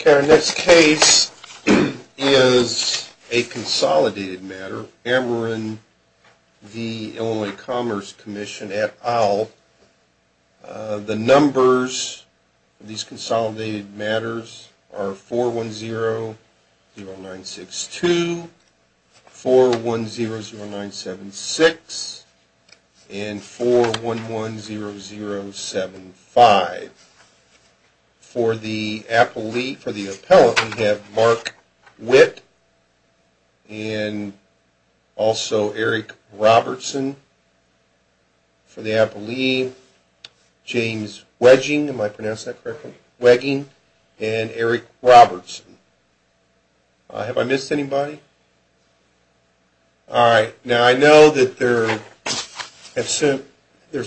Okay, our next case is a consolidated matter, Ameren v. Illinois Commerce Commission at Owl. The numbers of these consolidated matters are 410-0962, 410-0976, and 411-0075. For the appellant, we have Mark Witt and also Eric Robertson. For the appellee, James Wegging and Eric Robertson. Have I missed anybody? All right, now I know that there's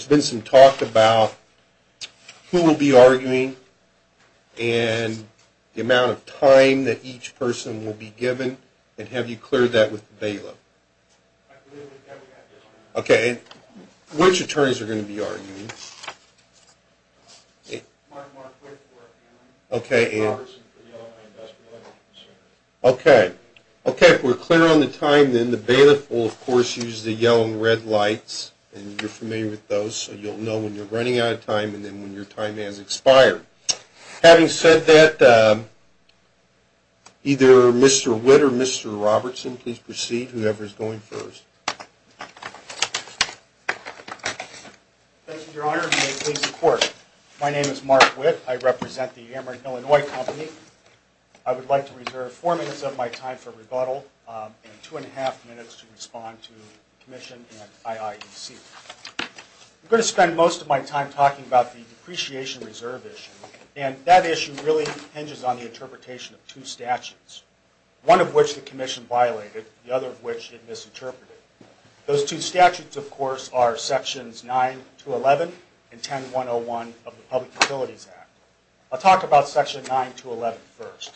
been some talk about who will be arguing and the amount of time that each person will be given. And have you cleared that with the bailiff? Okay, and which attorneys are going to be arguing? Mark Witt for appellant. Okay, and? Robertson for the Illinois Industrial and Consumer. Okay. Okay, if we're clear on the time, then the bailiff will, of course, use the yellow and red lights. And you're familiar with those, so you'll know when you're running out of time and then when your time has expired. Having said that, either Mr. Witt or Mr. Robertson, please proceed, whoever's going first. Your Honor, may I please report? My name is Mark Witt. I represent the Ameren Illinois Company. I would like to reserve four minutes of my time for rebuttal and two-and-a-half minutes to respond to the Commission and IIEC. I'm going to spend most of my time talking about the depreciation reserve issue, and that issue really hinges on the interpretation of two statutes, one of which the Commission violated, the other of which it misinterpreted. Those two statutes, of course, are Sections 9-11 and 10-101 of the Public Utilities Act. I'll talk about Section 9-11 first.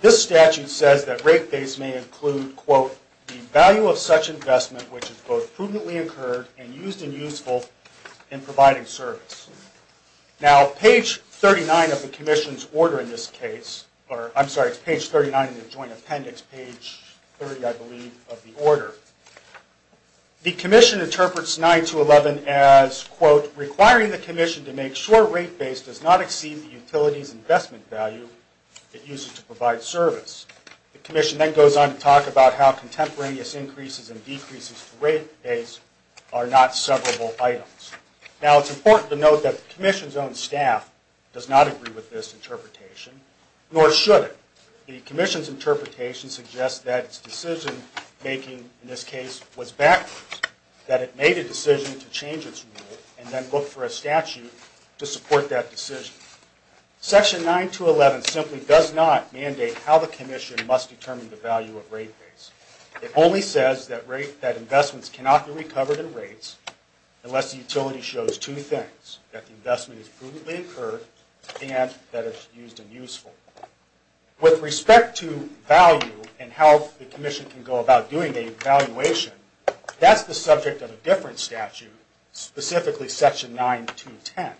This statute says that rate base may include, quote, the value of such investment which is both prudently incurred and used and useful in providing service. Now, page 39 of the Commission's order in this case, or I'm sorry, it's page 39 in the Joint Appendix, page 30, I believe, of the order, the Commission interprets 9-11 as, quote, requiring the Commission to make sure rate base does not exceed the utilities investment value it uses to provide service. The Commission then goes on to talk about how contemporaneous increases and decreases to rate base are not severable items. Now, it's important to note that the Commission's own staff does not agree with this interpretation, nor should it. The Commission's interpretation suggests that its decision-making in this case was backwards, that it made a decision to change its rule and then looked for a statute to support that decision. Section 9-11 simply does not mandate how the Commission must determine the value of rate base. It only says that investments cannot be recovered in rates unless the utility shows two things, that the investment is prudently incurred and that it's used and useful. With respect to value and how the Commission can go about doing the evaluation, that's the subject of a different statute, specifically Section 9-10.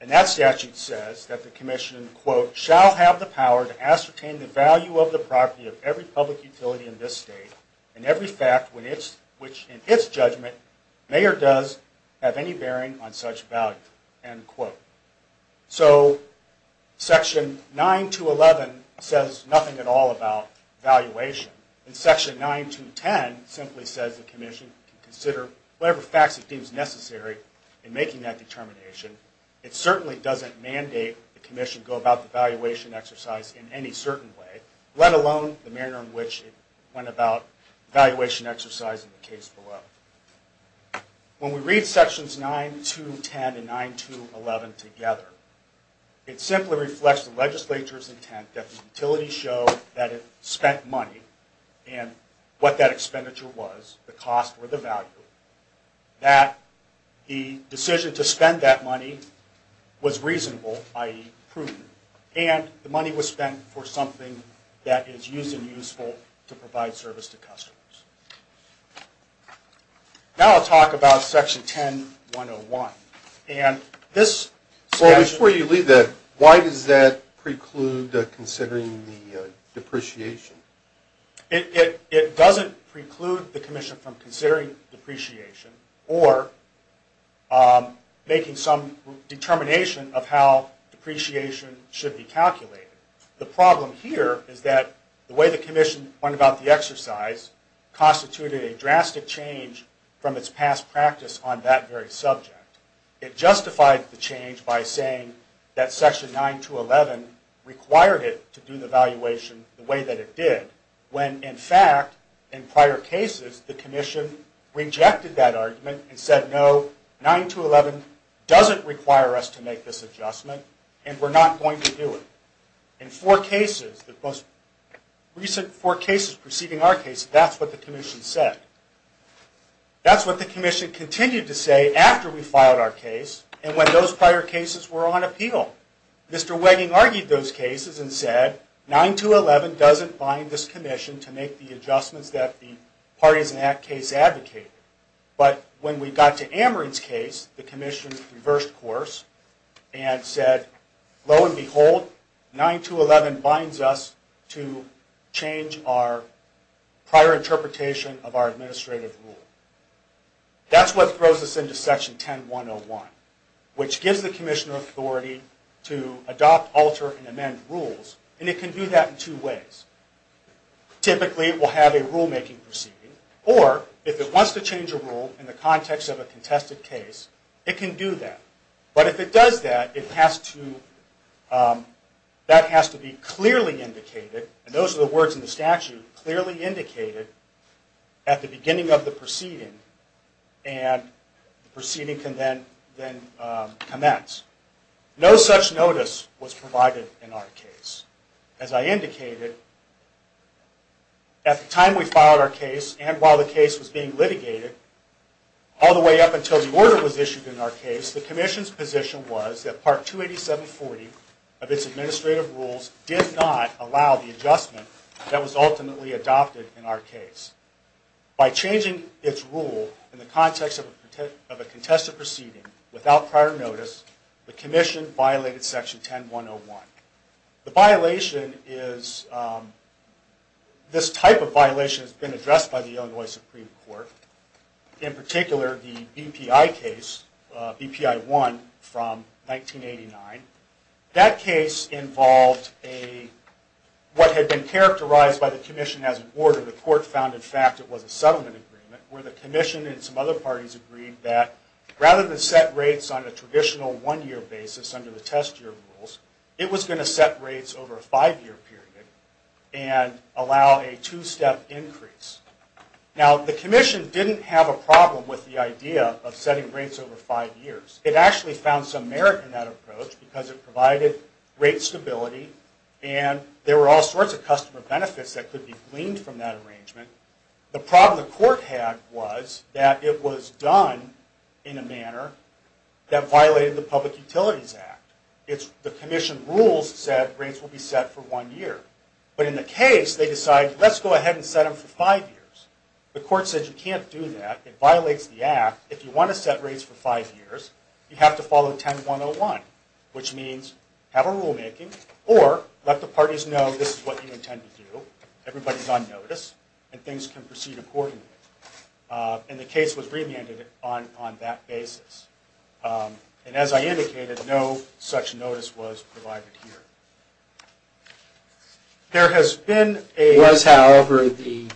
And that statute says that the Commission, quote, shall have the power to ascertain the value of the property of every public utility in this state and every fact which in its judgment may or does have any bearing on such value, end quote. So, Section 9-11 says nothing at all about valuation, and Section 9-10 simply says the Commission can consider whatever facts it deems necessary in making that determination. It certainly doesn't mandate the Commission go about the evaluation exercise in any certain way, let alone the manner in which it went about evaluation exercise in the case below. When we read Sections 9-10 and 9-11 together, it simply reflects the legislature's intent that the utility show that it spent money and what that expenditure was, the cost or the value, that the decision to spend that money was reasonable, i.e., prudent, and the money was spent for something that is used and useful to provide service to customers. Now I'll talk about Section 10-101. And this statute... Well, before you leave that, why does that preclude considering the depreciation? It doesn't preclude the Commission from considering depreciation or making some determination of how depreciation should be calculated. The problem here is that the way the Commission went about the exercise constituted a drastic change from its past practice on that very subject. It justified the change by saying that Section 9-11 required it to do the evaluation the way that it did, when in fact, in prior cases, the Commission rejected that argument and said, no, 9-11 doesn't require us to make this adjustment and we're not going to do it. In four cases, the most recent four cases preceding our case, that's what the Commission said. That's what the Commission continued to say after we filed our case and when those prior cases were on appeal. Mr. Wegging argued those cases and said, 9-11 doesn't bind this Commission to make the adjustments that the parties in that case advocated. But when we got to Ameren's case, the Commission reversed course and said, lo and behold, 9-11 binds us to change our prior interpretation of our administrative rule. That's what throws us into Section 10-101, which gives the Commissioner authority to adopt, alter, and amend rules, and it can do that in two ways. Typically, it will have a rulemaking proceeding, or if it wants to change a rule in the context of a contested case, it can do that. But if it does that, that has to be clearly indicated, and those are the words in the statute, clearly indicated at the beginning of the proceeding, and the proceeding can then commence. No such notice was provided in our case. As I indicated, at the time we filed our case, and while the case was being litigated, all the way up until the order was issued in our case, the Commission's position was that Part 28740 of its administrative rules did not allow the adjustment that was ultimately adopted in our case. By changing its rule in the context of a contested proceeding without prior notice, the Commission violated Section 10-101. The violation is, this type of violation has been addressed by the Illinois Supreme Court, in particular the BPI case, BPI-1 from 1989. That case involved what had been characterized by the Commission as an order where the court found, in fact, it was a settlement agreement, where the Commission and some other parties agreed that rather than set rates on a traditional one-year basis under the test year rules, it was going to set rates over a five-year period and allow a two-step increase. Now, the Commission didn't have a problem with the idea of setting rates over five years. It actually found some merit in that approach because it provided rate stability, and there were all sorts of customer benefits that could be gleaned from that arrangement. The problem the court had was that it was done in a manner that violated the Public Utilities Act. The Commission rules said rates will be set for one year. But in the case, they decided, let's go ahead and set them for five years. The court said, you can't do that. It violates the Act. If you want to set rates for five years, you have to follow 10-101, which means have a rulemaking or let the parties know this is what you intend to do. Everybody's on notice, and things can proceed accordingly. And the case was remanded on that basis. And as I indicated, no such notice was provided here. There has been a... Was, however, the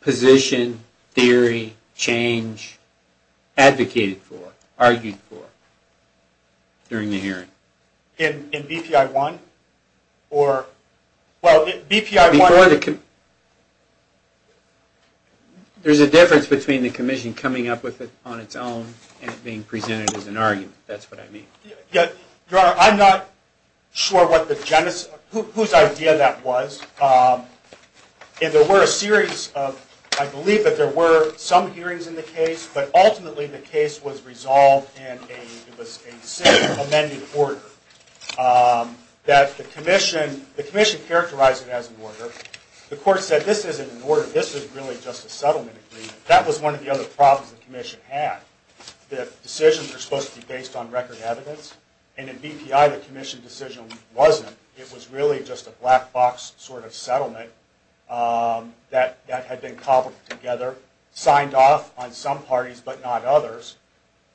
position, theory, change advocated for, argued for during the hearing? In BPI-1? Or, well, BPI-1... Before the... There's a difference between the Commission coming up with it on its own and it being presented as an argument. That's what I mean. Your Honor, I'm not sure what the genesis... Whose idea that was. There were a series of... I believe that there were some hearings in the case, but ultimately the case was resolved in a single amended order. The Commission characterized it as an order. The court said, this isn't an order. This is really just a settlement agreement. That was one of the other problems the Commission had. The decisions are supposed to be based on record evidence. And in BPI, the Commission decision wasn't. It was really just a black box sort of settlement that had been cobbled together, signed off on some parties but not others,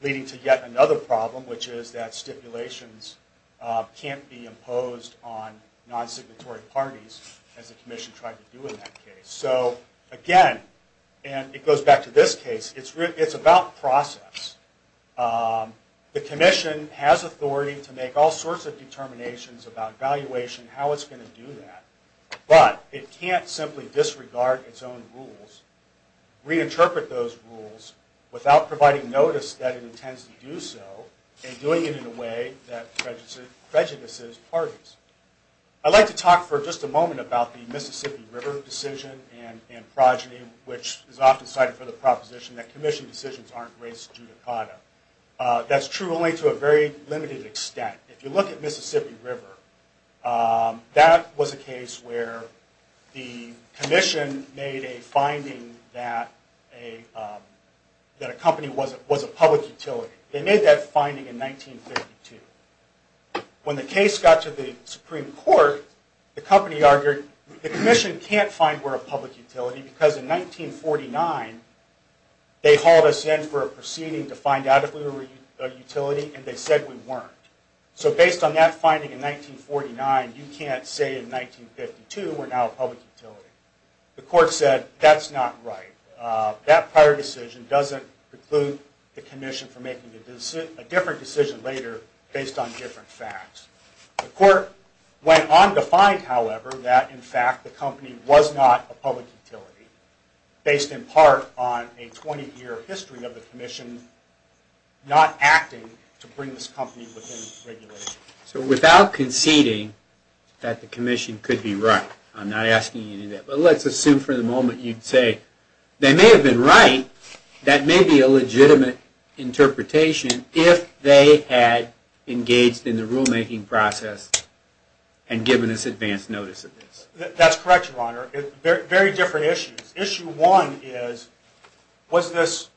leading to yet another problem, which is that stipulations can't be imposed on non-signatory parties, as the Commission tried to do in that case. So, again, and it goes back to this case, it's about process. The Commission has authority to make all sorts of determinations about valuation, how it's going to do that. But it can't simply disregard its own rules, reinterpret those rules without providing notice that it intends to do so, and doing it in a way that prejudices parties. I'd like to talk for just a moment about the Mississippi River decision and progeny, which is often cited for the proposition that Commission decisions aren't race judicata. That's true only to a very limited extent. If you look at Mississippi River, that was a case where the Commission made a finding that a company was a public utility. They made that finding in 1952. When the case got to the Supreme Court, the Commission can't find we're a public utility because in 1949 they hauled us in for a proceeding to find out if we were a utility, and they said we weren't. So based on that finding in 1949, you can't say in 1952 we're now a public utility. The Court said that's not right. That prior decision doesn't preclude the Commission from making a different decision later based on different facts. The Court went on to find, however, that in fact the company was not a public utility based in part on a 20-year history of the Commission not acting to bring this company within regulation. So without conceding that the Commission could be right, I'm not asking you to do that, but let's assume for the moment you'd say they may have been right. That may be a legitimate interpretation if they had engaged in the rulemaking process and given us advance notice of this. That's correct, Your Honor. Very different issues. Issue one is, was this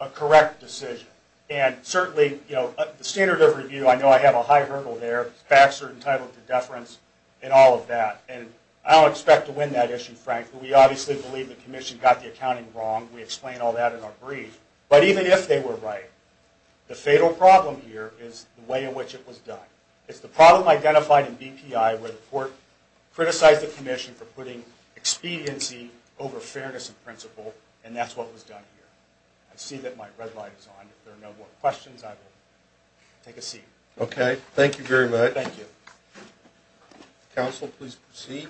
a correct decision? And certainly the standard of review, I know I have a high hurdle there, facts are entitled to deference and all of that. And I don't expect to win that issue, frankly. We obviously believe the Commission got the accounting wrong. We explain all that in our brief. But even if they were right, the fatal problem here is the way in which it was done. It's the problem identified in BPI where the Court criticized the Commission for putting expediency over fairness in principle, and that's what was done here. I see that my red light is on. If there are no more questions, I will take a seat. Okay. Thank you very much. Thank you. Counsel, please proceed.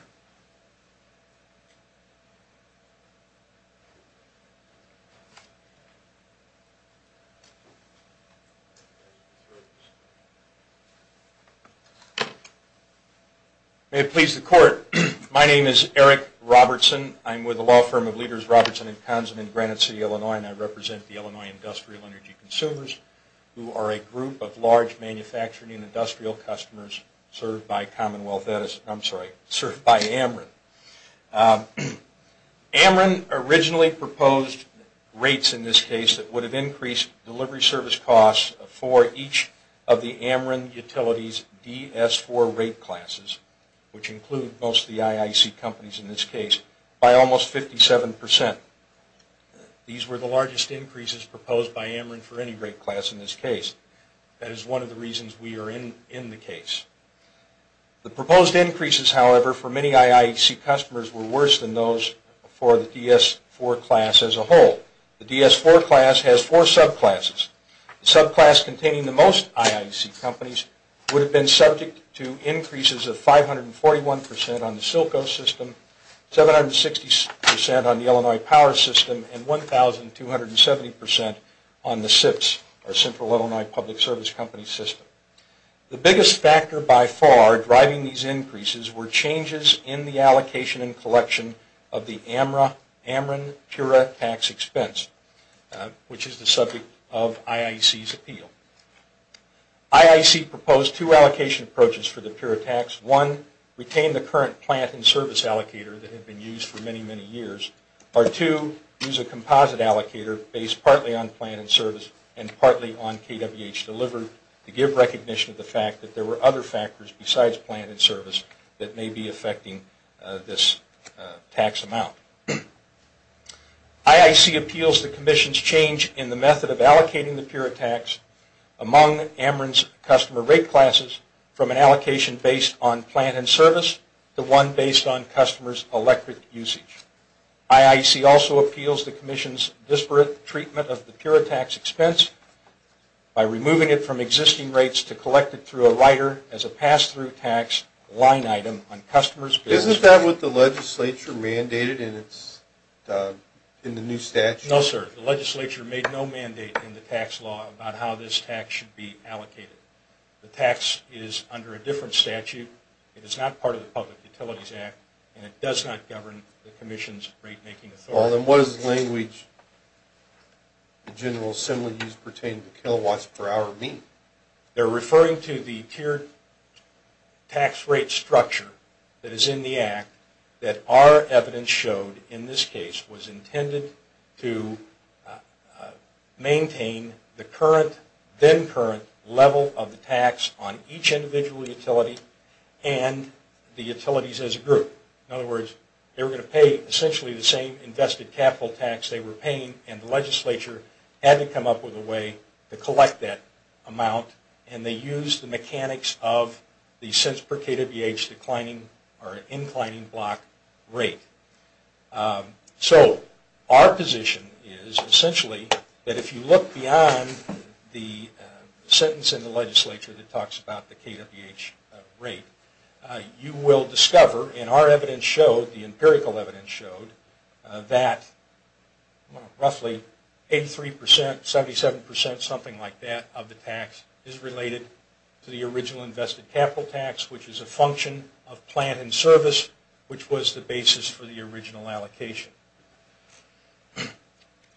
May it please the Court. My name is Eric Robertson. I'm with the law firm of Leaders, Robertson & Kahneman in Granite City, Illinois, and I represent the Illinois Industrial Energy Consumers, who are a group of large manufacturing and industrial customers served by Commonwealth Edison. I'm sorry, served by Ameren. Ameren originally proposed rates, in this case, that would have increased delivery service costs for each of the Ameren Utilities DS4 rate classes, which include most of the IIC companies in this case, by almost 57%. These were the largest increases proposed by Ameren for any rate class in this case. That is one of the reasons we are in the case. The proposed increases, however, for many IIC customers were worse than those for the DS4 class as a whole. The DS4 class has four subclasses. The subclass containing the most IIC companies would have been subject to increases of 541% on the Silco system, 760% on the Illinois Power System, and 1,270% on the CIPS, or Central Illinois Public Service Company System. The biggest factor by far driving these increases were changes in the expense, which is the subject of IIC's appeal. IIC proposed two allocation approaches for the pure tax. One, retain the current plant and service allocator that had been used for many, many years. Or two, use a composite allocator based partly on plant and service and partly on KWH delivered to give recognition of the fact that there were other factors besides plant and service that may be affecting this tax amount. IIC appeals the Commission's change in the method of allocating the pure tax among Ameren's customer rate classes from an allocation based on plant and service to one based on customers' electric usage. IIC also appeals the Commission's disparate treatment of the pure tax expense by removing it from existing rates to collect it through a rider as a pass-through tax line item on customers' bills. Isn't that what the legislature mandated in the new statute? No, sir. The legislature made no mandate in the tax law about how this tax should be allocated. The tax is under a different statute. It is not part of the Public Utilities Act, and it does not govern the Commission's rate-making authority. Well, then what does the language in General Assembly use pertaining to kilowatts per hour mean? They're referring to the tiered tax rate structure that is in the Act that our evidence showed in this case was intended to maintain the current, then current, level of the tax on each individual utility and the utilities as a group. In other words, they were going to pay essentially the same invested capital tax they were paying, and the legislature had to come up with a way to collect that amount, and they used the mechanics of the cents per kWh declining or inclining block rate. So our position is essentially that if you look beyond the sentence in the legislature that talks about the kWh rate, you will discover in our evidence showed, the empirical evidence showed, that roughly 83 percent, 77 percent, something like that, of the tax is related to the original invested capital tax, which is a function of plant and service, which was the basis for the original allocation.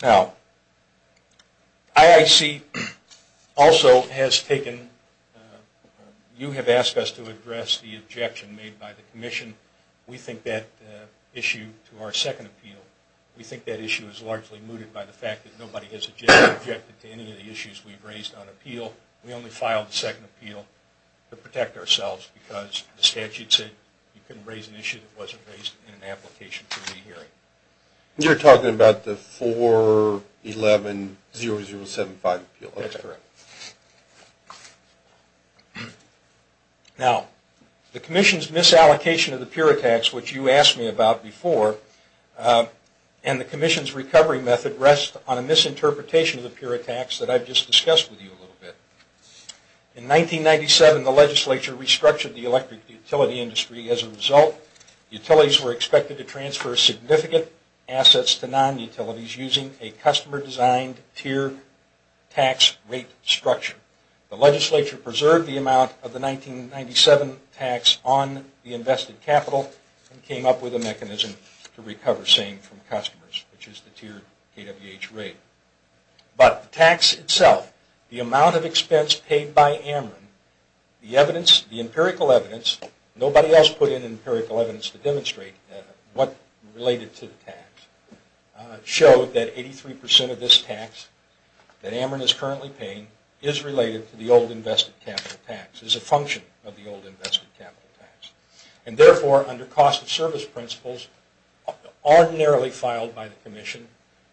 Now, IIC also has taken, you have asked us to address the objection made by the commission to that issue to our second appeal. We think that issue is largely mooted by the fact that nobody has objected to any of the issues we've raised on appeal. We only filed the second appeal to protect ourselves because the statute said you couldn't raise an issue that wasn't raised in an application committee hearing. You're talking about the 4110075 appeal. That's correct. Now, the commission's misallocation of the pure tax, which you asked me about before, and the commission's recovery method rest on a misinterpretation of the pure tax that I've just discussed with you a little bit. In 1997, the legislature restructured the electric utility industry. As a result, utilities were expected to transfer significant assets to The legislature preserved the amount of the 1997 tax on the invested capital and came up with a mechanism to recover same from customers, which is the tiered KWH rate. But the tax itself, the amount of expense paid by Ameren, the empirical evidence, nobody else put in empirical evidence to demonstrate what related to the tax, showed that 83% of this tax that Ameren is currently paying is related to the old invested capital tax, is a function of the old invested capital tax. And therefore, under cost of service principles, ordinarily filed by the commission,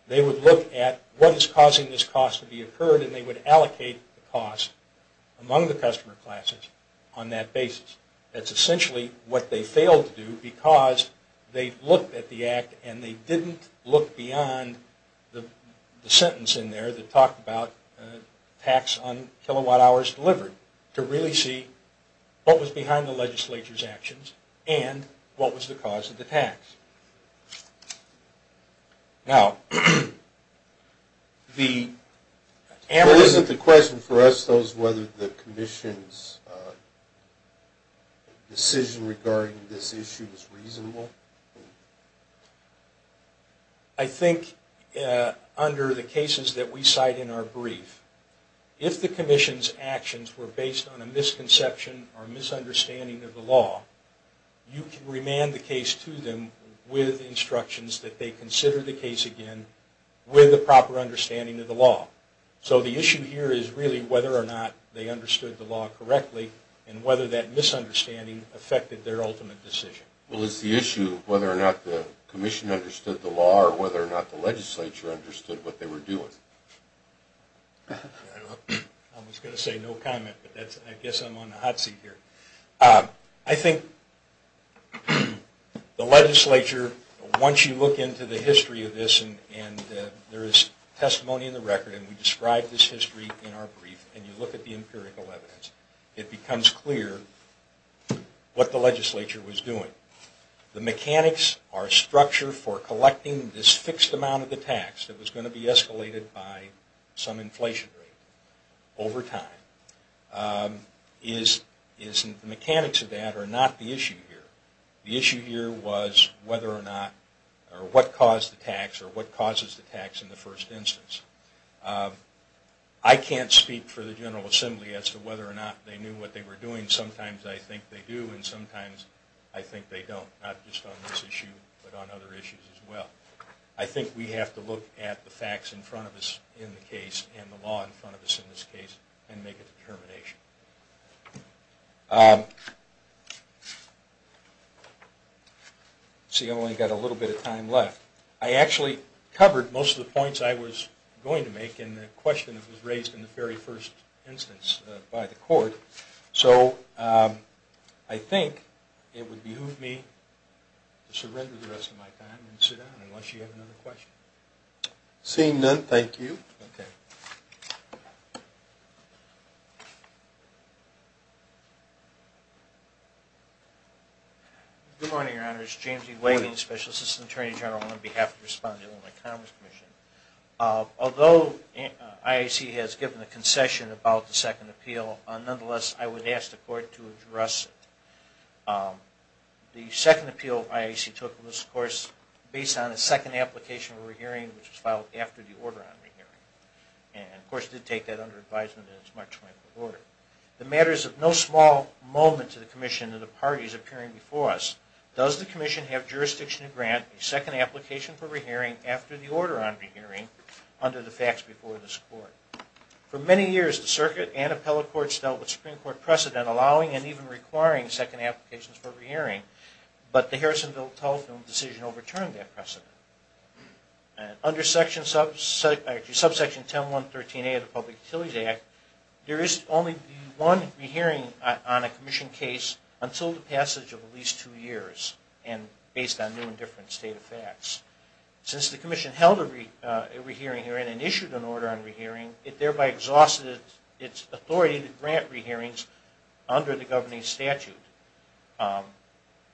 they would look at what is causing this cost to be occurred and they would allocate the cost among the customer classes on that basis. That's essentially what they failed to do because they looked at the act and they didn't look beyond the sentence in there that talked about tax on kilowatt hours delivered to really see what was behind the legislature's actions and what was the cause of the tax. Now, the Ameren... Well, isn't the question for us though whether the commission's decision regarding this issue is reasonable? I think under the cases that we cite in our brief, if the commission's actions were based on a misconception or misunderstanding of the law, you can remand the case to them with instructions that they consider the case again with a proper understanding of the law. So the issue here is really whether or not they understood the law correctly and whether that misunderstanding affected their ultimate decision. Well, it's the issue of whether or not the commission understood the law or whether or not the legislature understood what they were doing. I was going to say no comment, but I guess I'm on the hot seat here. I think the legislature, once you look into the history of this and there is testimony in the record and we describe this history in our brief and you look at the empirical evidence, it becomes clear what the legislature was doing. The mechanics, our structure for collecting this fixed amount of the tax that was going to be escalated by some inflation rate over time, the mechanics of that are not the issue here. The issue here was whether or not or what caused the tax or what causes the tax in the first instance. I can't speak for the General Assembly as to whether or not they knew what they were doing. Sometimes I think they do and sometimes I think they don't, not just on this issue but on other issues as well. I think we have to look at the facts in front of us in the case and the law in front of us in this case and make a determination. I've only got a little bit of time left. I actually covered most of the points I was going to make in the question that was raised in the very first instance by the court. So I think it would behoove me to surrender the rest of my time and sit down unless you have another question. Seeing none, thank you. Okay. Good morning, Your Honors. James E. Wagner, Special Assistant Attorney General on behalf of the Respondent of the Commerce Commission. Although IAC has given a concession about the second appeal, nonetheless I would ask the court to address it. The second appeal IAC took was, of course, based on a second application we were And, of course, it did take that under advisement in its March 24th order. The matter is of no small moment to the commission that a party is appearing before us. Does the commission have jurisdiction to grant a second application for re-hearing after the order on re-hearing under the facts before this court? For many years the circuit and appellate courts dealt with Supreme Court precedent allowing and even requiring second applications for re-hearing, but the Harrisonville Telephone decision overturned that precedent. Under subsection 10.113A of the Public Utilities Act, there is only one re-hearing on a commission case until the passage of at least two years and based on new and different state of facts. Since the commission held a re-hearing hearing and issued an order on re-hearing, it thereby exhausted its authority to grant re-hearings under the governing statute.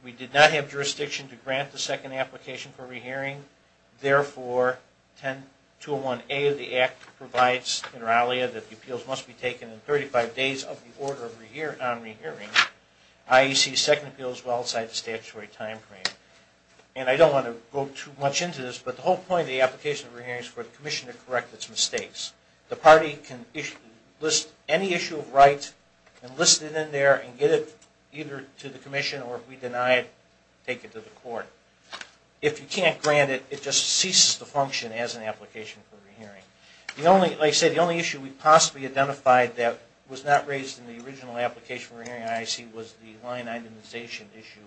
We did not have jurisdiction to grant the second application for re-hearing. Therefore, 10.201A of the Act provides that the appeals must be taken in 35 days of the order on re-hearing. IEC's second appeal is well outside the statutory time frame. And I don't want to go too much into this, but the whole point of the application of re-hearing is for the commission to correct its mistakes. The party can list any issue of right and list it in there and get it either to the commission or if we deny it, take it to the court. If you can't grant it, it just ceases to function as an application for re-hearing. Like I said, the only issue we possibly identified that was not raised in the original application for re-hearing in IEC was the line itemization issue.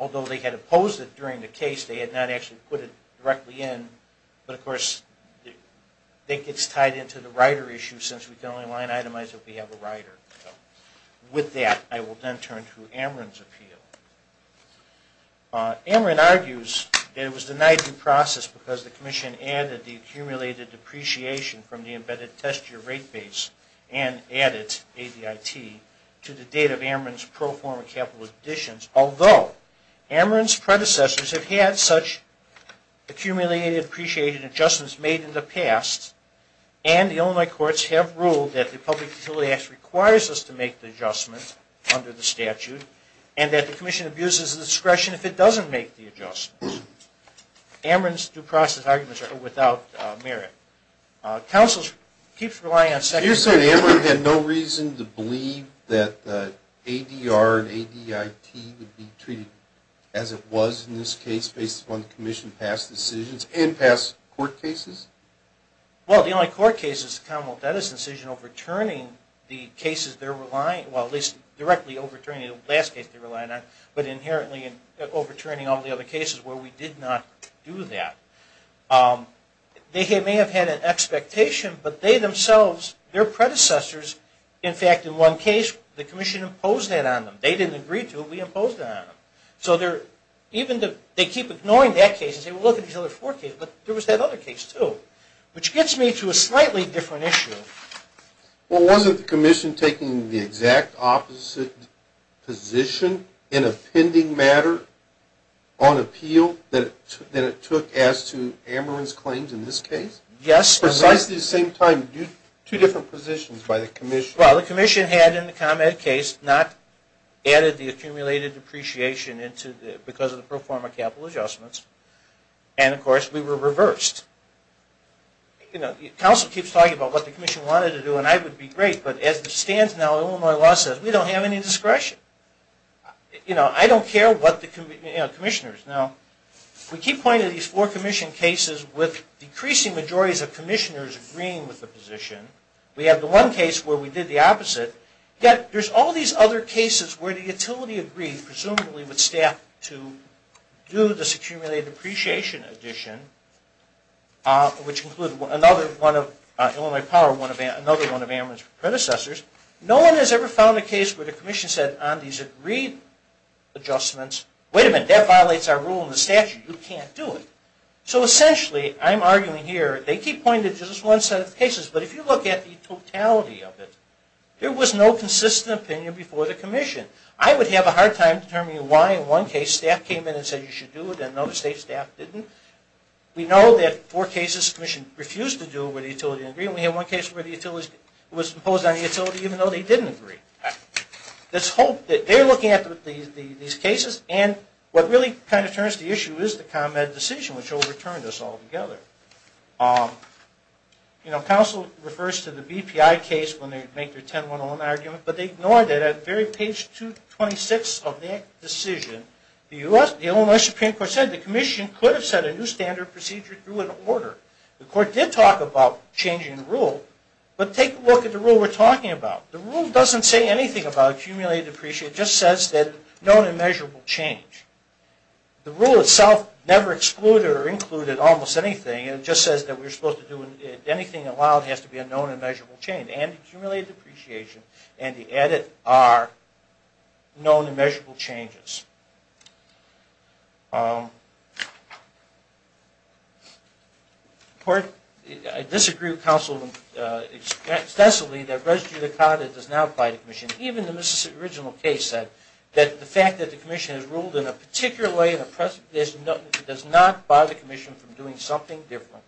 Although they had opposed it during the case, they had not actually put it directly in. But of course, I think it's tied into the rider issue since we can only line itemize if we have a rider. With that, I will then turn to Ameren's appeal. Ameren argues that it was denied due process because the commission added the accumulated depreciation from the embedded test year rate base and added ADIT to the date of Ameren's pro forma capital additions, although Ameren's predecessors have had such accumulated depreciation adjustments made in the statute and that the commission abuses the discretion if it doesn't make the adjustments. Ameren's due process arguments are without merit. Counsel keeps relying on... You're saying Ameren had no reason to believe that ADR and ADIT would be treated as it was in this case based upon the commission past decisions and past court cases? Well, the only court case is the commonwealth debtors' decision overturning the cases they're relying on, well, at least directly overturning the last case they're relying on, but inherently overturning all the other cases where we did not do that. They may have had an expectation, but they themselves, their predecessors, in fact, in one case the commission imposed that on them. They didn't agree to it, we imposed it on them. So even if they keep ignoring that case and say, well, look at these other court cases, but there was that other case too, which gets me to a slightly different issue. Well, wasn't the commission taking the exact opposite position in a pending matter on appeal than it took as to Ameren's claims in this case? Yes. Precisely the same time, two different positions by the commission. Well, the commission had in the comment case not added the accumulated depreciation because of the pro forma capital adjustments and, of course, we were reversed. Counsel keeps talking about what the commission wanted to do and I would be great, but as it stands now, Illinois law says we don't have any discretion. I don't care what the commissioners. Now, we keep pointing to these four commission cases with decreasing majorities of commissioners agreeing with the position. We have the one case where we did the opposite. Yet there's all these other cases where the utility agreed, presumably with depreciation addition, which included another one of Illinois Power, another one of Ameren's predecessors. No one has ever found a case where the commission said on these agreed adjustments, wait a minute, that violates our rule in the statute. You can't do it. So essentially, I'm arguing here, they keep pointing to just one set of cases, but if you look at the totality of it, there was no consistent opinion before the commission. I would have a hard time determining why in one case staff came in and said you should do it and another state staff didn't. We know that four cases the commission refused to do it where the utility didn't agree and we have one case where the utility was opposed on the utility even though they didn't agree. They're looking at these cases and what really kind of turns the issue is the ComEd decision, which overturned us all together. Council refers to the BPI case when they make their 10-1-1 argument, but they Supreme Court said the commission could have set a new standard procedure through an order. The court did talk about changing the rule, but take a look at the rule we're talking about. The rule doesn't say anything about accumulated depreciation. It just says that known and measurable change. The rule itself never excluded or included almost anything. It just says that anything allowed has to be a known and measurable change. And the edit are known and measurable changes. I disagree with Council excessively that res judicata does not apply to the commission. Even the Mississippi original case said that the fact that the commission has ruled in a particular way does not bother the commission from doing something different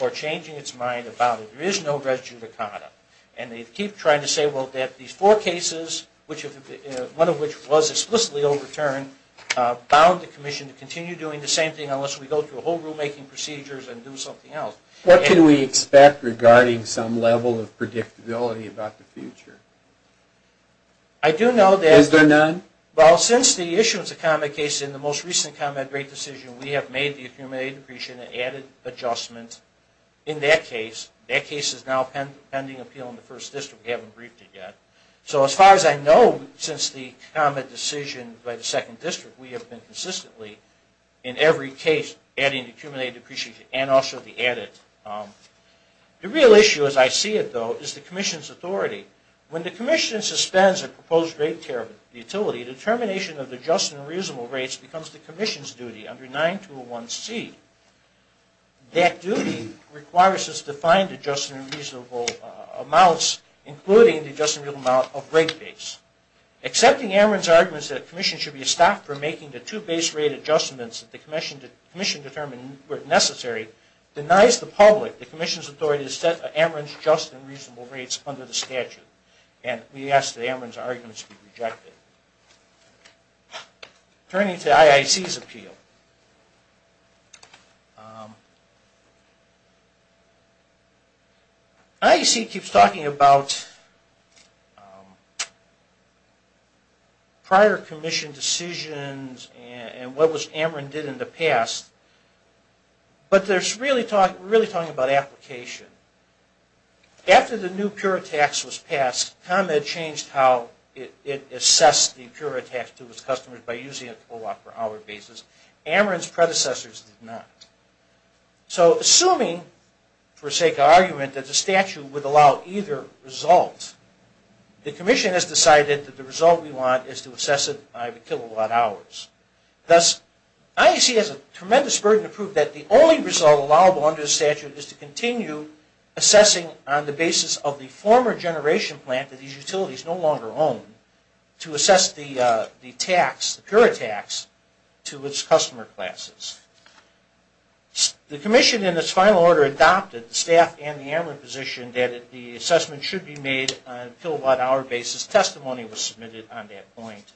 or changing its mind about it. There is no res judicata. And they keep trying to say, well, that these four cases, one of which was explicitly overturned, bound the commission to continue doing the same thing unless we go through a whole rulemaking procedures and do something else. What can we expect regarding some level of predictability about the future? Is there none? Well, since the issue was a ComEd case in the most recent ComEd rate decision, we have made the accumulated depreciation an added adjustment in that case. That case is now pending appeal in the first district. We haven't briefed it yet. So as far as I know, since the ComEd decision by the second district, we have been consistently in every case adding the accumulated depreciation and also the added. The real issue, as I see it, though, is the commission's authority. When the commission suspends a proposed rate care utility, the termination of the just and reasonable rates becomes the commission's duty under 9201C. That duty requires us to find the just and reasonable amounts, including the just and reasonable amount of rate base. Accepting Ameren's arguments that the commission should be stopped from making the two base rate adjustments that the commission determined were necessary denies the public the commission's authority to set Ameren's just and reasonable rates under the statute. And we ask that Ameren's arguments be rejected. Turning to IIC's appeal. IIC keeps talking about prior commission decisions and what Ameren did in the past, but they're really talking about application. After the new pure tax was passed, ComEd changed how it assessed the pure tax to its customers by using a kilowatt per hour basis. Ameren's predecessors did not. So assuming, for sake of argument, that the statute would allow either result, the commission has decided that the result we want is to assess it by the kilowatt hours. Thus, IIC has a tremendous burden to prove that the only result allowable under the statute is to continue assessing on the basis of the former generation plant that these utilities no longer own to assess the tax, the pure tax, to its customer classes. The commission, in its final order, adopted the staff and the Ameren position that the assessment should be made on a kilowatt hour basis. Testimony was submitted on that point.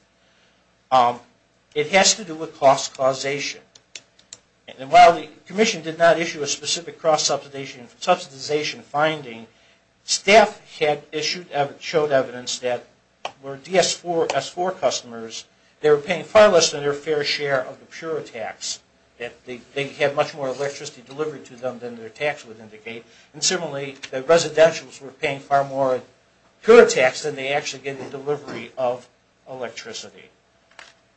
It has to do with cost causation. And while the commission did not issue a specific cost subsidization finding, staff had showed evidence that were DS4 customers, they were paying far less than their fair share of the pure tax. They had much more electricity delivered to them than their tax would indicate. And similarly, the residentials were paying far more pure tax than they actually get in delivery of electricity.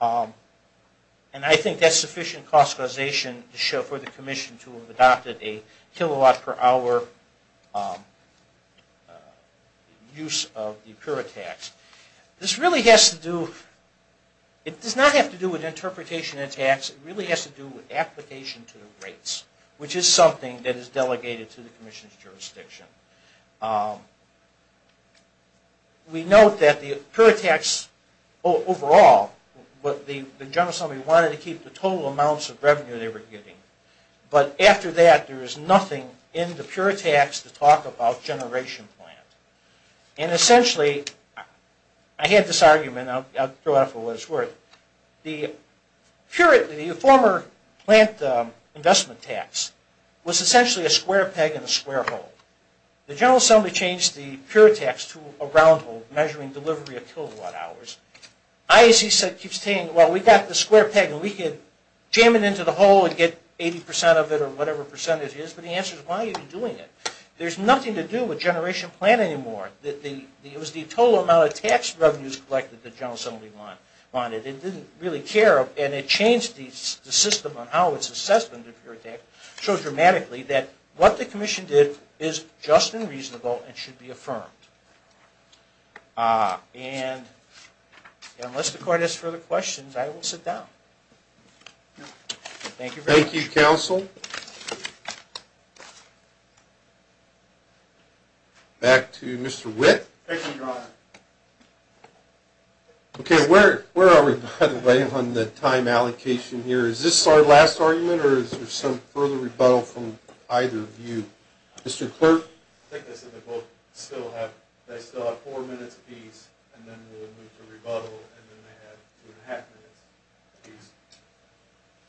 And I think that's sufficient cost causation to show for the commission to have adopted a kilowatt per hour use of the pure tax. This really has to do, it does not have to do with interpretation and tax. It really has to do with application to the rates, which is something that is delegated to the commission's jurisdiction. We note that the pure tax overall, the general assembly wanted to keep the nothing in the pure tax to talk about generation plant. And essentially, I had this argument, I'll throw out for what it's worth. The former plant investment tax was essentially a square peg in a square hole. The general assembly changed the pure tax to a round hole measuring delivery of kilowatt hours. IAC keeps saying, well, we got the square peg and we could jam it into the whatever percentage is, but the answer is why are you doing it? There's nothing to do with generation plant anymore. It was the total amount of tax revenues collected that the general assembly wanted. It didn't really care, and it changed the system on how its assessment of pure tax so dramatically that what the commission did is just and reasonable and should be affirmed. And unless the court has further questions, I will sit down. Thank you. Thank you, counsel. Back to Mr. Witt. OK, where are we on the time allocation here? Is this our last argument or is there some further rebuttal from either of you? Mr.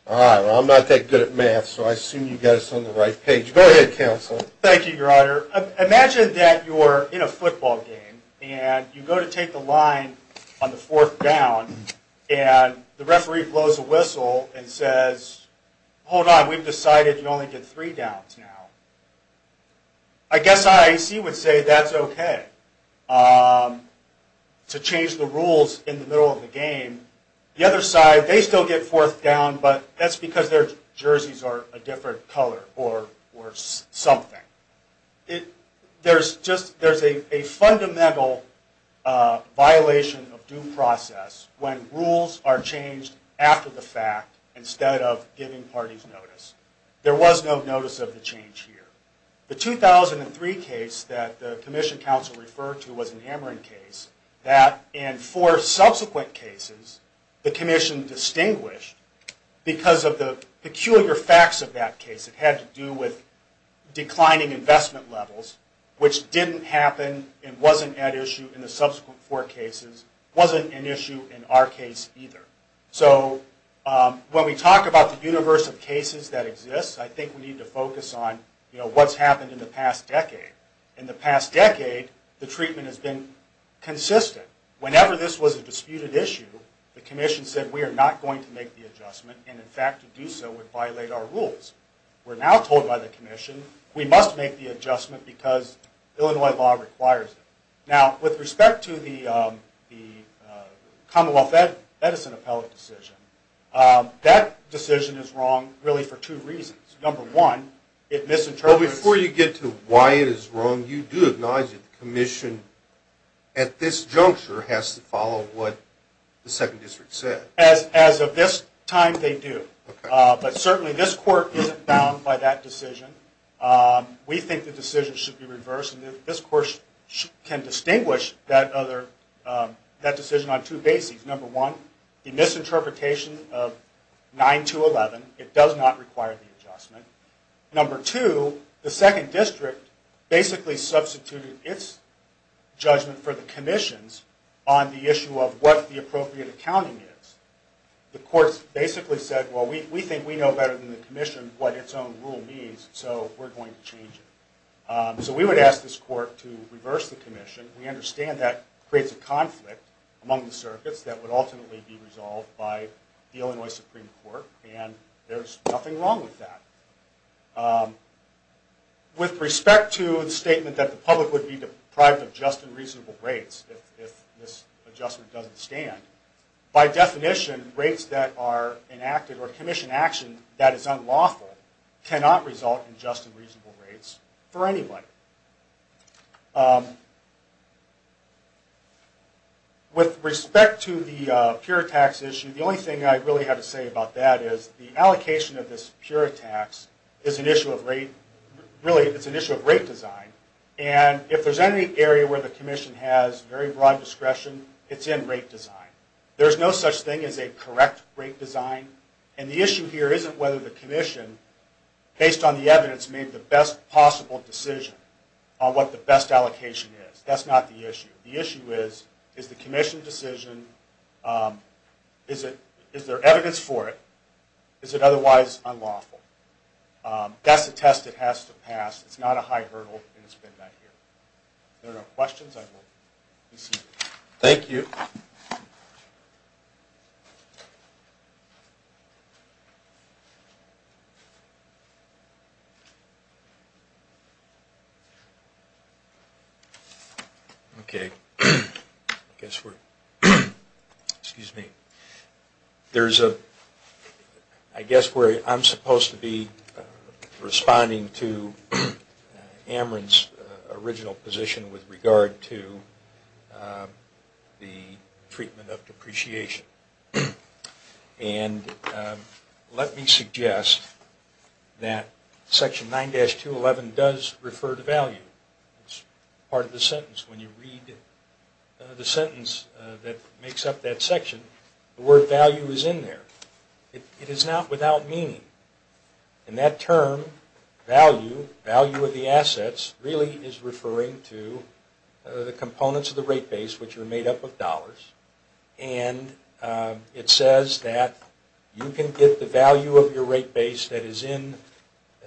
All right, well, I'm not that good at math, so I assume you got us on the right page. Go ahead, counsel. Thank you, your honor. Imagine that you're in a football game and you go to take the line on the fourth down and the referee blows a whistle and says, hold on, we've decided you only get three downs now. I guess IAC would say that's OK to change the rules in the middle of the game. The other side, they still get fourth down, but that's because their jerseys are a different color or something. There's a fundamental violation of due process when rules are changed after the fact instead of giving parties notice. There was no notice of the change here. The 2003 case that the commission counsel referred to was an Ameren case that in four subsequent cases the commission distinguished because of the peculiar facts of that case. It had to do with declining investment levels, which didn't happen and wasn't at issue in the subsequent four cases, wasn't an issue in our case either. So when we talk about the universe of cases that exist, I think we need to focus on what's happened in the past decade. In the past decade, the treatment has been consistent. Whenever this was a disputed issue, the commission said we are not going to make the adjustment and, in fact, to do so would violate our rules. We're now told by the commission we must make the adjustment because Illinois law requires it. Now, with respect to the Commonwealth Medicine appellate decision, that decision is wrong really for two reasons. Number one, it misinterprets Well, before you get to why it is wrong, you do acknowledge that the commission at this juncture has to follow what the second district said. As of this time, they do. But certainly this court isn't bound by that decision. We think the decision should be reversed, and this court can distinguish that decision on two bases. Number one, the misinterpretation of 9-11. It does not require the adjustment. Number two, the second district basically substituted its judgment for the commission's on the issue of what the appropriate accounting is. The court basically said, well, we think we know better than the commission what its own rule means, so we're going to change it. So we would ask this court to reverse the commission. We understand that creates a conflict among the circuits that would ultimately be resolved by the Illinois Supreme Court, and there's nothing wrong with that. With respect to the statement that the public would be deprived of just and reasonable rates if this adjustment doesn't stand, by definition, rates that are enacted or commission action that is unlawful cannot result in just and reasonable rates for anybody. With respect to the pure tax issue, the only thing I really have to say about that is the allocation of this pure tax is an issue of rate design, and if there's any area where the commission has very broad discretion, it's in rate design. There's no such thing as a correct rate design, and the issue here isn't whether the commission, based on the evidence, made the best possible decision on what the best allocation is. That's not the issue. The issue is, is the commission decision, is there evidence for it, is it otherwise unlawful? That's a test it has to pass. It's not a high hurdle, and it's been met here. If there are no questions, I will be seated. Thank you. Okay. I guess we're, excuse me. There's a, I guess where I'm supposed to be responding to Ameren's original position with regard to the treatment of depreciation. And let me suggest that Section 9-211 does refer to value. It's part of the sentence. When you read the sentence that makes up that section, the word value is in there. It is not without meaning. And that term, value, value of the assets, really is referring to the components of the rate base, which are made up of dollars. And it says that you can get the value of your rate base that is in,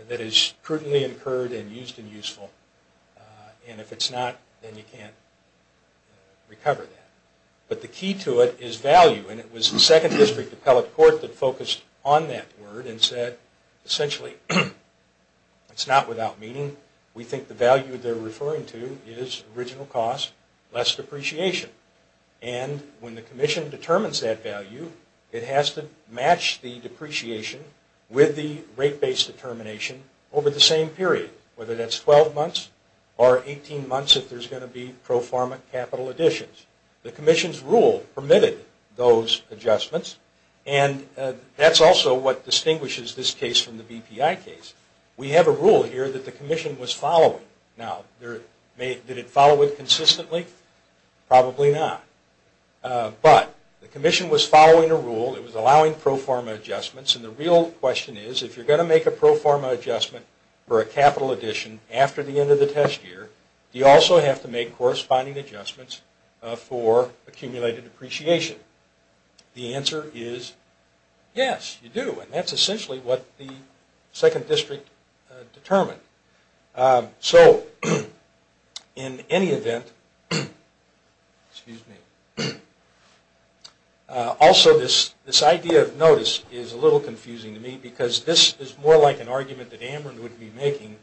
that is prudently incurred and used and useful. And if it's not, then you can't recover that. But the key to it is value. And it was the second district appellate court that focused on that word and said, essentially, it's not without meaning. We think the value they're referring to is original cost, less depreciation. And when the commission determines that value, it has to match the depreciation with the rate base determination over the same period, whether that's 12 months or 18 months if there's going to be pro forma capital additions. The commission's rule permitted those adjustments. And that's also what distinguishes this case from the BPI case. We have a rule here that the commission was following. Now, did it follow it consistently? Probably not. But the commission was following a rule. It was allowing pro forma adjustments. And the real question is, if you're going to make a pro forma adjustment for a capital addition after the end of the test year, do you also have to make corresponding adjustments for accumulated depreciation? The answer is yes, you do. And that's essentially what the second district determined. So, in any event, also this idea of notice is a little confusing to me because this is more like an argument that Ambren would be making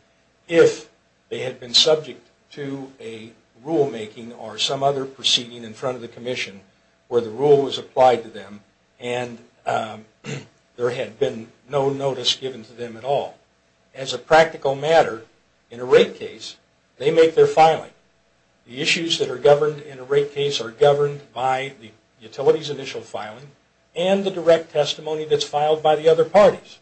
if they had been subject to a rulemaking or some other proceeding in front of the commission where the rule was applied to them and there had been no notice given to them at all. As a practical matter, in a rate case, they make their filing. The issues that are governed in a rate case are governed by the utilities initial filing and the direct testimony that's filed by the other parties.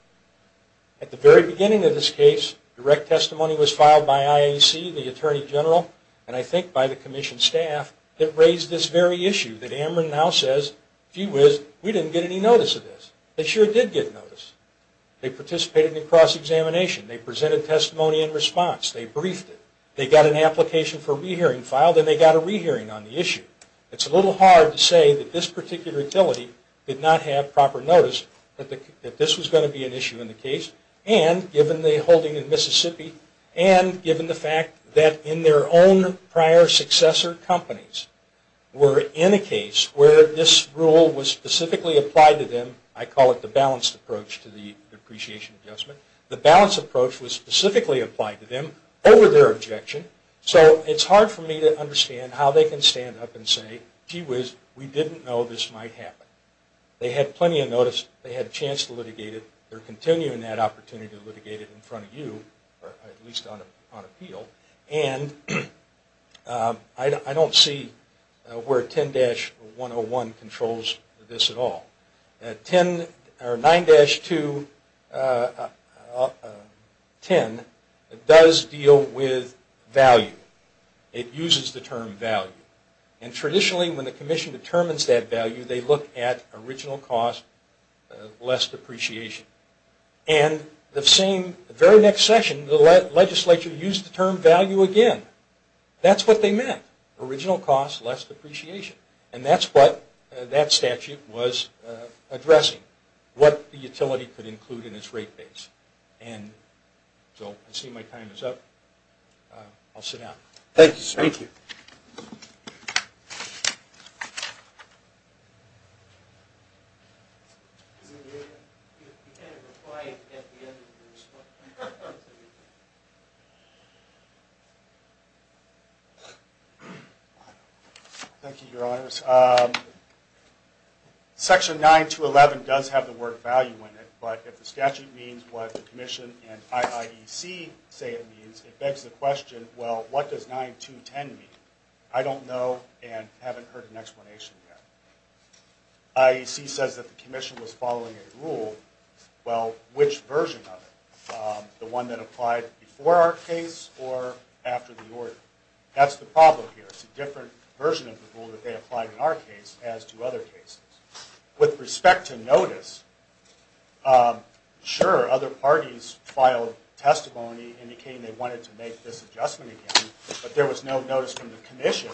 At the very beginning of this case, direct testimony was filed by IAC, the Attorney General, and I think by the commission staff that raised this very issue that Ambren now says, gee whiz, we didn't get any notice of this. They sure did get notice. They participated in a cross-examination. They presented testimony in response. They briefed it. They got an application for a rehearing filed, and they got a rehearing on the issue. It's a little hard to say that this particular utility did not have proper notice that this was going to be an issue in the case, and given the holding in Mississippi, and given the fact that in their own prior successor companies were in a case where this rule was specifically applied to them. I call it the balanced approach to the depreciation adjustment. The balanced approach was specifically applied to them over their objection, so it's hard for me to understand how they can stand up and say, gee whiz, we didn't know this might happen. They had plenty of notice. They had a chance to litigate it. They're continuing that opportunity to litigate it in front of you, or at least on appeal, and I don't see where 10-101 controls this at all. 9-210 does deal with value. It uses the term value, and traditionally when the commission determines that value, they look at original cost, less depreciation, and the very next session, the legislature used the term value again. That's what they meant, original cost, less depreciation, and that's what that statute was addressing, what the utility could include in its rate base, and so I see my time is up. I'll sit down. Thank you, sir. Thank you. Thank you, Your Honors. Section 9-211 does have the word value in it, but if the statute means what the commission and IIEC say it means, it begs the question, well, what does 9-210 mean? I don't know and haven't heard an explanation yet. IEC says that the commission was following a rule. Well, which version of it? The one that applied before our case or after the order? That's the problem here. It's a different version of the rule that they applied in our case, as to other cases. With respect to notice, sure, other parties filed testimony indicating they wanted to make this adjustment again, but there was no notice from the commission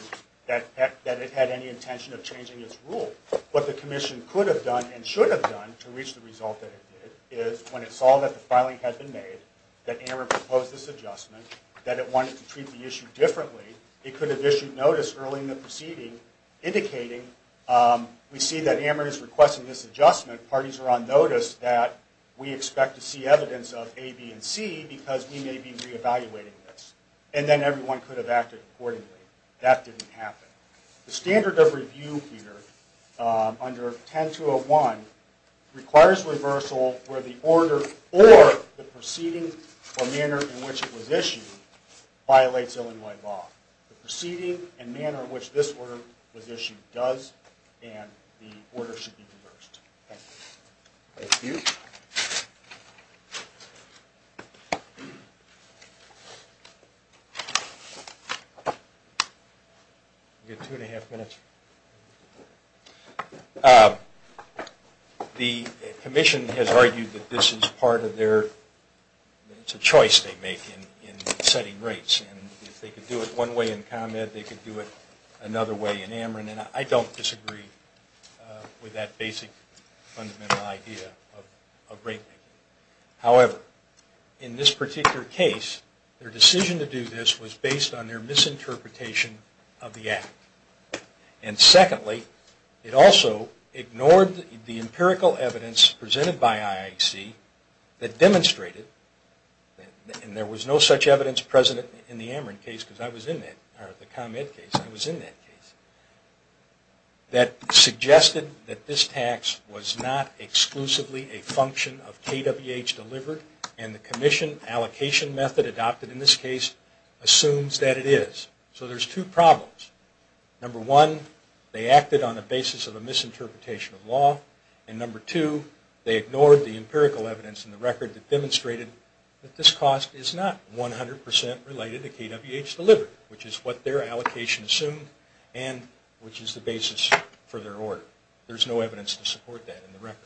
that it had any intention of changing its rule. What the commission could have done and should have done to reach the result that it did is, when it saw that the filing had been made, that AMR proposed this adjustment, that it wanted to treat the issue differently, it could have issued notice early in the proceeding indicating, we see that AMR is requesting this adjustment, parties are on notice that we expect to see evidence of A, B, and C, because we may be reevaluating this, and then everyone could have acted accordingly. That didn't happen. The standard of review here, under 10-201, requires reversal where the order or the proceeding or manner in which it was issued violates Illinois law. The proceeding and manner in which this order was issued does, and the order should be reversed. Thank you. The commission has argued that this is part of their, it's a choice they make in setting rates, and if they could do it one way in ComEd, they could do it another way in AMR, and I don't disagree with that basic fundamental idea of rate making. However, in this particular case, their decision to do this was based on their misinterpretation of the act, and secondly, it also ignored the empirical evidence presented by IIC that demonstrated, and there was no such evidence present in the AMR case, because I was in that, or the ComEd case, I was in that case, that suggested that this tax was not exclusively a function of KWH delivered, and the commission allocation method adopted in this case assumes that it is. So there's two problems. Number one, they acted on the basis of a misinterpretation of law, and number two, they ignored the empirical evidence in the record that KWH delivered, which is what their allocation assumed, and which is the basis for their order. There's no evidence to support that in the record.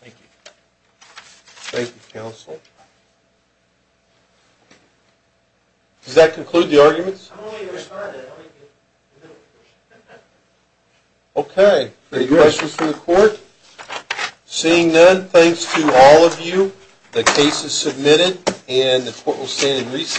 Thank you. Thank you, counsel. Does that conclude the arguments? I'm only going to respond to that. Okay. Any questions from the court? Seeing none, thanks to all of you. The case is submitted, and the court will stand in recess.